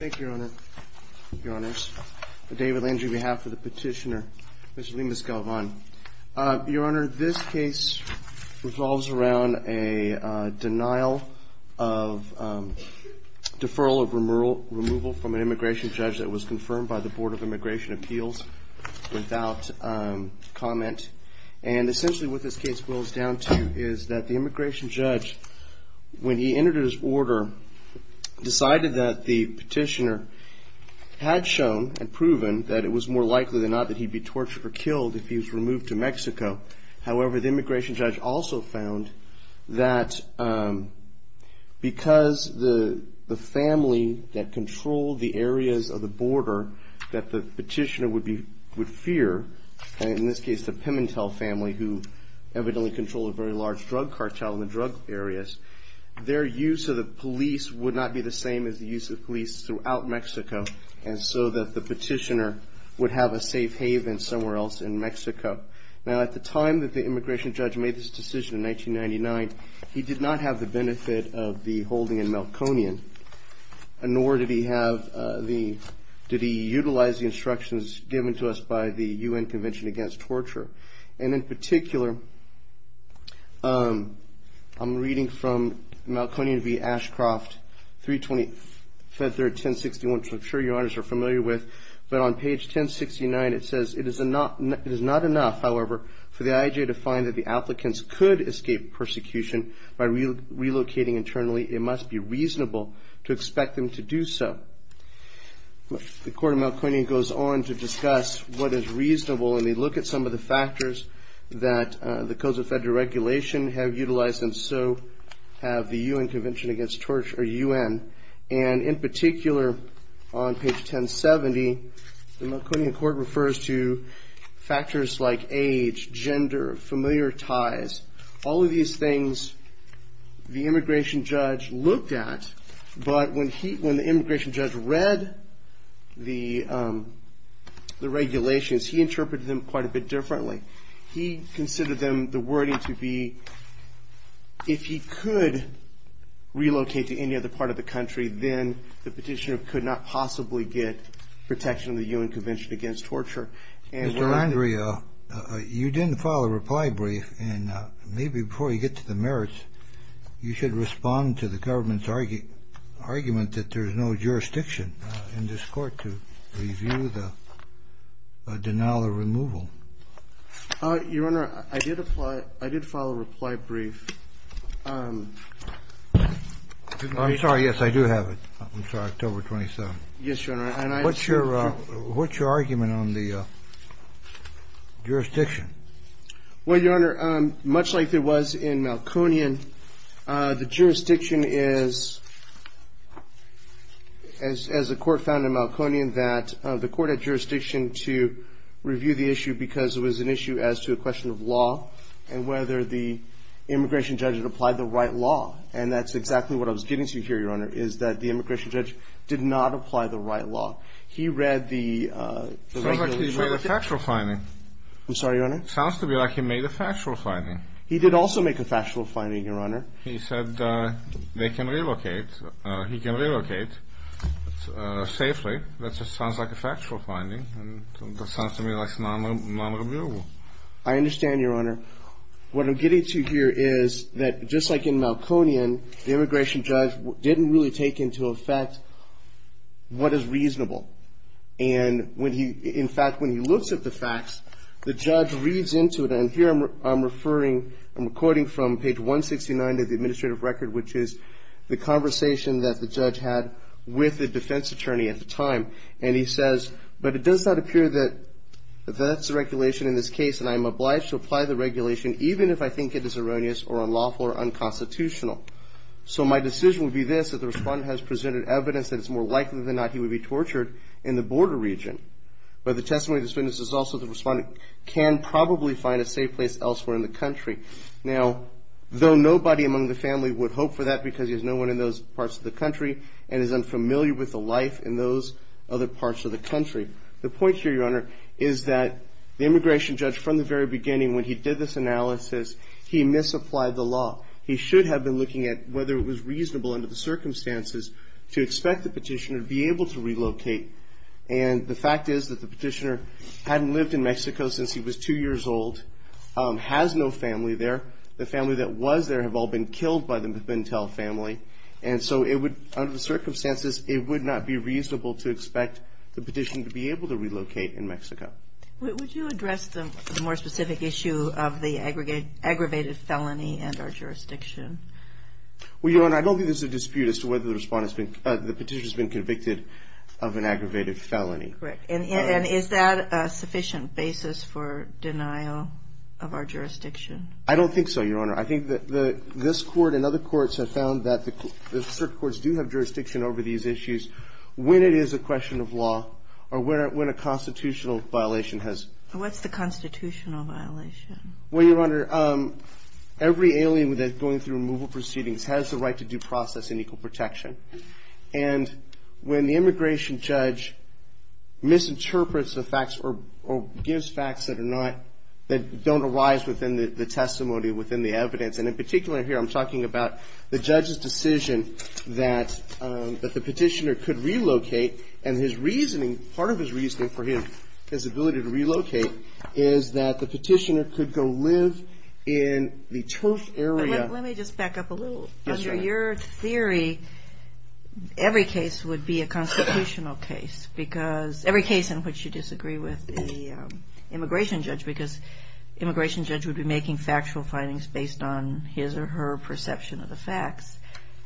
Thank you, Your Honor. Your Honors, David Landry on behalf of the petitioner, Mr. Lemus-Galvan. Your Honor, this case revolves around a denial of deferral of removal from an immigration judge that was confirmed by the Board of Immigration Appeals without comment. And essentially what this case boils down to is that the immigration judge, when he entered his order, decided that the petitioner had shown and proven that it was more likely than not that he'd be tortured or killed if he was removed to Mexico. However, the immigration judge also found that because the family that controlled the areas of the border that the petitioner would fear, in this case the Pimentel family who evidently controlled a very large drug cartel in the drug areas, their use of the police would not be the same as the use of police throughout Mexico, and so that the petitioner would have a safe haven somewhere else in Mexico. Now at the time that the immigration judge made this decision in 1999, he did not have the benefit of the holding in Melkonian, nor did he utilize the instructions given to us by the U.N. Convention Against Torture. And in particular, I'm reading from Melkonian v. Ashcroft, 320-1061, which I'm sure Your Honors are familiar with, but on page 1069 it says, it is not enough, however, for the IJ to find that the applicants could escape persecution by relocating internally. It must be reasonable to expect them to do so. The Court of Melkonian goes on to discuss what is reasonable, and they look at some of the factors that the codes of federal regulation have utilized, and so have the U.N. Convention Against Torture, or U.N. And in particular, on page 1070, the Melkonian court refers to factors like age, gender, familiar ties, all of these things the immigration judge looked at, but when the immigration judge read the regulations, he interpreted them quite a bit differently. He considered them, the wording to be, if he could relocate to any other part of the country, then the petitioner could not possibly get protection of the U.N. Convention Against Torture. Mr. Landria, you didn't file a reply brief, and maybe before you get to the merits, you should respond to the government's argument that there is no jurisdiction in this court to review the denial of removal. Your Honor, I did file a reply brief. I'm sorry, yes, I do have it. I'm sorry, October 27th. Yes, Your Honor. What's your argument on the jurisdiction? Well, Your Honor, much like there was in Melkonian, the jurisdiction is, as the court found in Melkonian, that the court had jurisdiction to review the issue because it was an issue as to a question of law and whether the immigration judge had applied the right law. And that's exactly what I was getting to here, Your Honor, is that the immigration judge did not apply the right law. He read the regulations. It sounds like he made a factual finding. I'm sorry, Your Honor? It sounds to me like he made a factual finding. He did also make a factual finding, Your Honor. He said they can relocate, he can relocate safely. That just sounds like a factual finding. That sounds to me like it's non-reviewable. I understand, Your Honor. What I'm getting to here is that just like in Melkonian, the facts, the judge reads into it, and here I'm referring, I'm quoting from page 169 of the administrative record, which is the conversation that the judge had with the defense attorney at the time. And he says, but it does not appear that that's the regulation in this case, and I'm obliged to apply the regulation even if I think it is erroneous or unlawful or unconstitutional. So my decision would be this, that the respondent has presented evidence that it's more the respondent can probably find a safe place elsewhere in the country. Now, though nobody among the family would hope for that because there's no one in those parts of the country and is unfamiliar with the life in those other parts of the country, the point here, Your Honor, is that the immigration judge from the very beginning when he did this analysis, he misapplied the law. He should have been looking at whether it was reasonable under the circumstances to expect the petitioner to be able to relocate. And the fact is that the petitioner hadn't lived in Mexico since he was two years old, has no family there. The family that was there have all been killed by the Pintel family. And so it would, under the circumstances, it would not be reasonable to expect the petitioner to be able to relocate in Mexico. Would you address the more specific issue of the aggravated felony and our jurisdiction? Well, Your Honor, I don't think there's a dispute as to whether the petitioner has been convicted of an aggravated felony. Correct. And is that a sufficient basis for denial of our jurisdiction? I don't think so, Your Honor. I think that this Court and other courts have found that certain courts do have jurisdiction over these issues when it is a question of law or when a constitutional violation has. What's the constitutional violation? Well, Your Honor, every alien that's going through removal proceedings has the right to due process and equal protection. And when the immigration judge misinterprets the facts or gives facts that are not, that don't arise within the testimony, within the evidence, and in particular here I'm talking about the judge's decision that the petitioner could relocate, and his reasoning, part of his reasoning for his ability to relocate, is that the petitioner could go live in the turf area. Let me just back up a little. Yes, Your Honor. Under your theory, every case would be a constitutional case because, every case in which you disagree with the immigration judge, because immigration judge would be making factual findings based on his or her perception of the facts.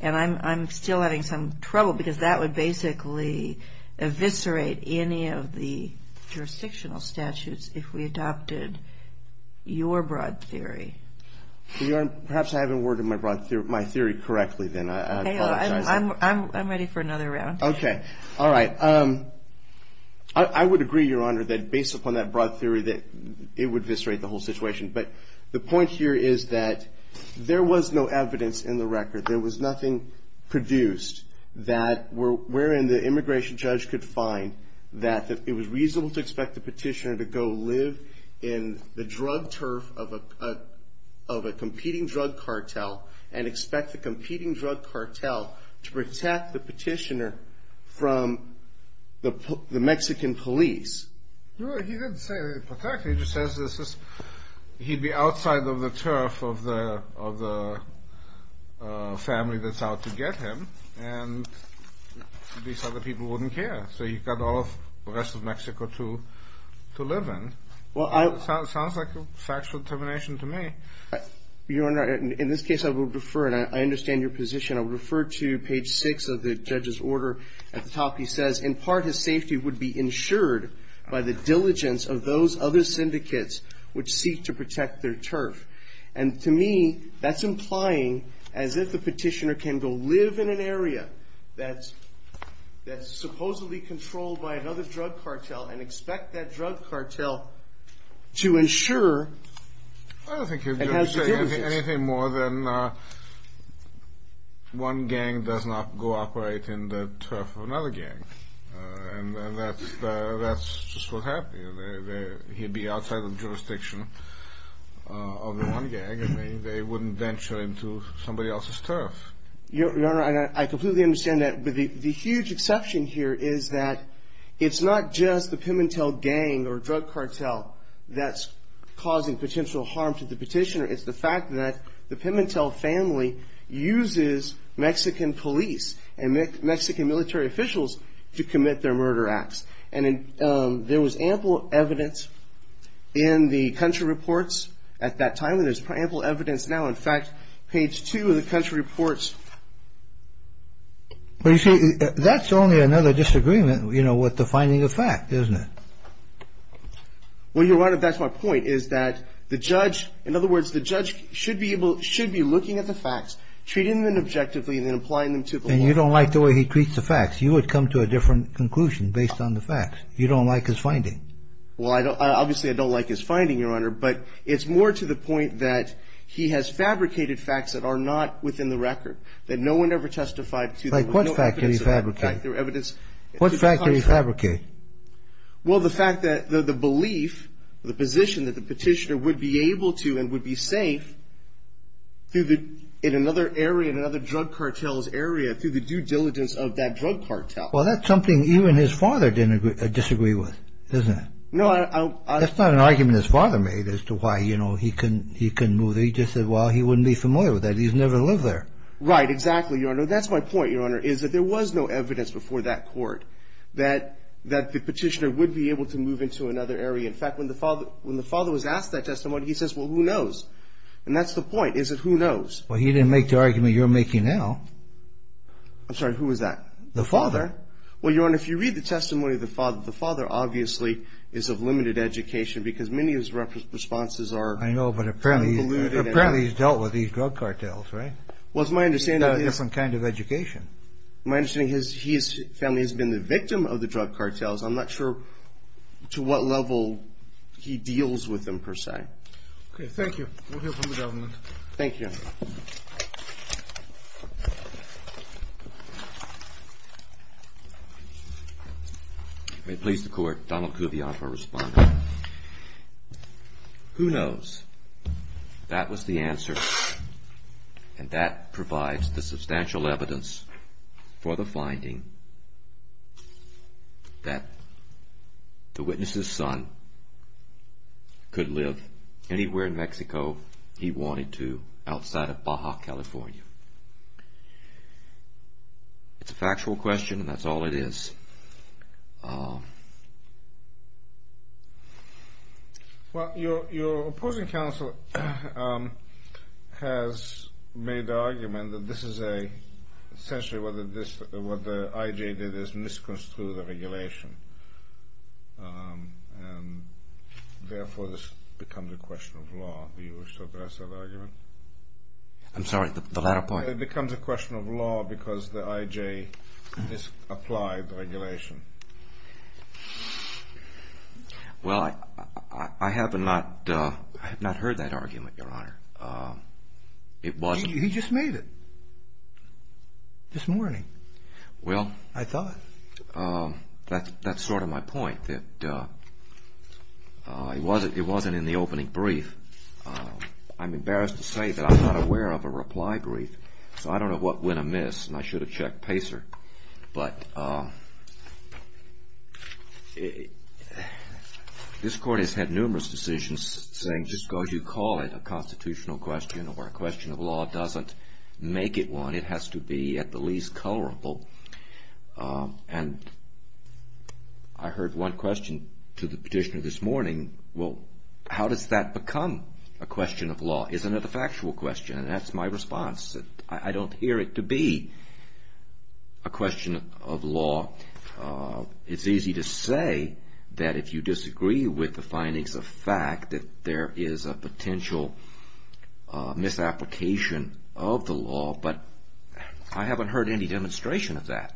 And I'm still having some trouble because that would basically eviscerate any of the jurisdictional statutes if we adopted your broad theory. Your Honor, perhaps I haven't worded my theory correctly then. I apologize. I'm ready for another round. Okay. All right. I would agree, Your Honor, that based upon that broad theory that it would eviscerate the whole situation. But the point here is that there was no evidence in the record, there was nothing produced that wherein the immigration judge could find that it was reasonable to expect the petitioner to go live in the drug turf of a competing drug cartel and expect the competing drug cartel to protect the petitioner from the Mexican police. No, he didn't say protect. He just says he'd be outside of the turf of the family that's out to get him, and these other people wouldn't care. So you've got all of the rest of Mexico to live in. It sounds like a factual determination to me. Your Honor, in this case I would refer, and I understand your position, I would refer to page 6 of the judge's order. At the top he says, in part his safety would be ensured by the diligence of those other syndicates which seek to protect their turf. And to me that's implying as if the petitioner can go live in an area that's supposedly controlled by another drug cartel and expect that drug cartel to ensure and have certificates. I don't think he would say anything more than one gang does not cooperate in the turf of another gang, and that's just what happened. He'd be outside the jurisdiction of the one gang, and they wouldn't venture into somebody else's turf. Your Honor, I completely understand that, but the huge exception here is that it's not just the Pimentel gang or drug cartel that's causing potential harm to the petitioner. It's the fact that the Pimentel family uses Mexican police and Mexican military officials to commit their murder acts. And there was ample evidence in the country reports at that time, and there's ample evidence now. In fact, page 2 of the country reports. Well, you see, that's only another disagreement, you know, with the finding of fact, isn't it? Well, Your Honor, that's my point, is that the judge, in other words, the judge should be looking at the facts, treating them objectively, and then applying them to the law. And you don't like the way he treats the facts. You would come to a different conclusion based on the facts. You don't like his finding. Well, obviously, I don't like his finding, Your Honor, but it's more to the point that he has fabricated facts that are not within the record, that no one ever testified to. Like what fact did he fabricate? What fact did he fabricate? Well, the fact that the belief, the position that the petitioner would be able to and would be safe in another area, through the due diligence of that drug cartel. Well, that's something even his father didn't disagree with, isn't it? No, I... That's not an argument his father made as to why, you know, he couldn't move there. He just said, well, he wouldn't be familiar with that. He's never lived there. Right, exactly, Your Honor. That's my point, Your Honor, is that there was no evidence before that court that the petitioner would be able to move into another area. In fact, when the father was asked that question, he says, well, who knows? And that's the point, is that who knows? Well, he didn't make the argument you're making now. I'm sorry, who was that? The father. The father. Well, Your Honor, if you read the testimony of the father, the father obviously is of limited education because many of his responses are... I know, but apparently he's dealt with these drug cartels, right? Well, it's my understanding... He's got a different kind of education. My understanding is his family has been the victim of the drug cartels. I'm not sure to what level he deals with them, per se. Okay, thank you. We'll hear from the government. Thank you, Your Honor. May it please the Court, Donald Kuvian for a response. Who knows? That was the answer, and that provides the substantial evidence for the finding that the witness's son could live anywhere in Mexico he wanted to outside of Baja, California. It's a factual question, and that's all it is. Well, your opposing counsel has made the argument that this is essentially what the IJ did is misconstrued the regulation. Therefore, this becomes a question of law. Do you wish to address that argument? I'm sorry, the latter part? It becomes a question of law because the IJ misapplied the regulation. Well, I have not heard that argument, Your Honor. It wasn't... He just made it this morning, I thought. That's sort of my point, that it wasn't in the opening brief. I'm embarrassed to say that I'm not aware of a reply brief, so I don't know what went amiss, and I should have checked Pacer. But this Court has had numerous decisions saying just because you call it a constitutional question or a question of law doesn't make it one. It has to be at the least colorable, and I heard one question to the petitioner this morning. Well, how does that become a question of law? Isn't it a factual question? That's my response. I don't hear it to be a question of law. It's easy to say that if you disagree with the findings of fact that there is a potential misapplication of the law, but I haven't heard any demonstration of that.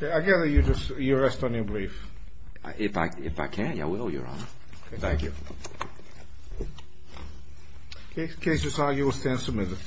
I gather you rest on your brief. If I can, I will, Your Honor. Thank you. The case is signed. You will stand submitted.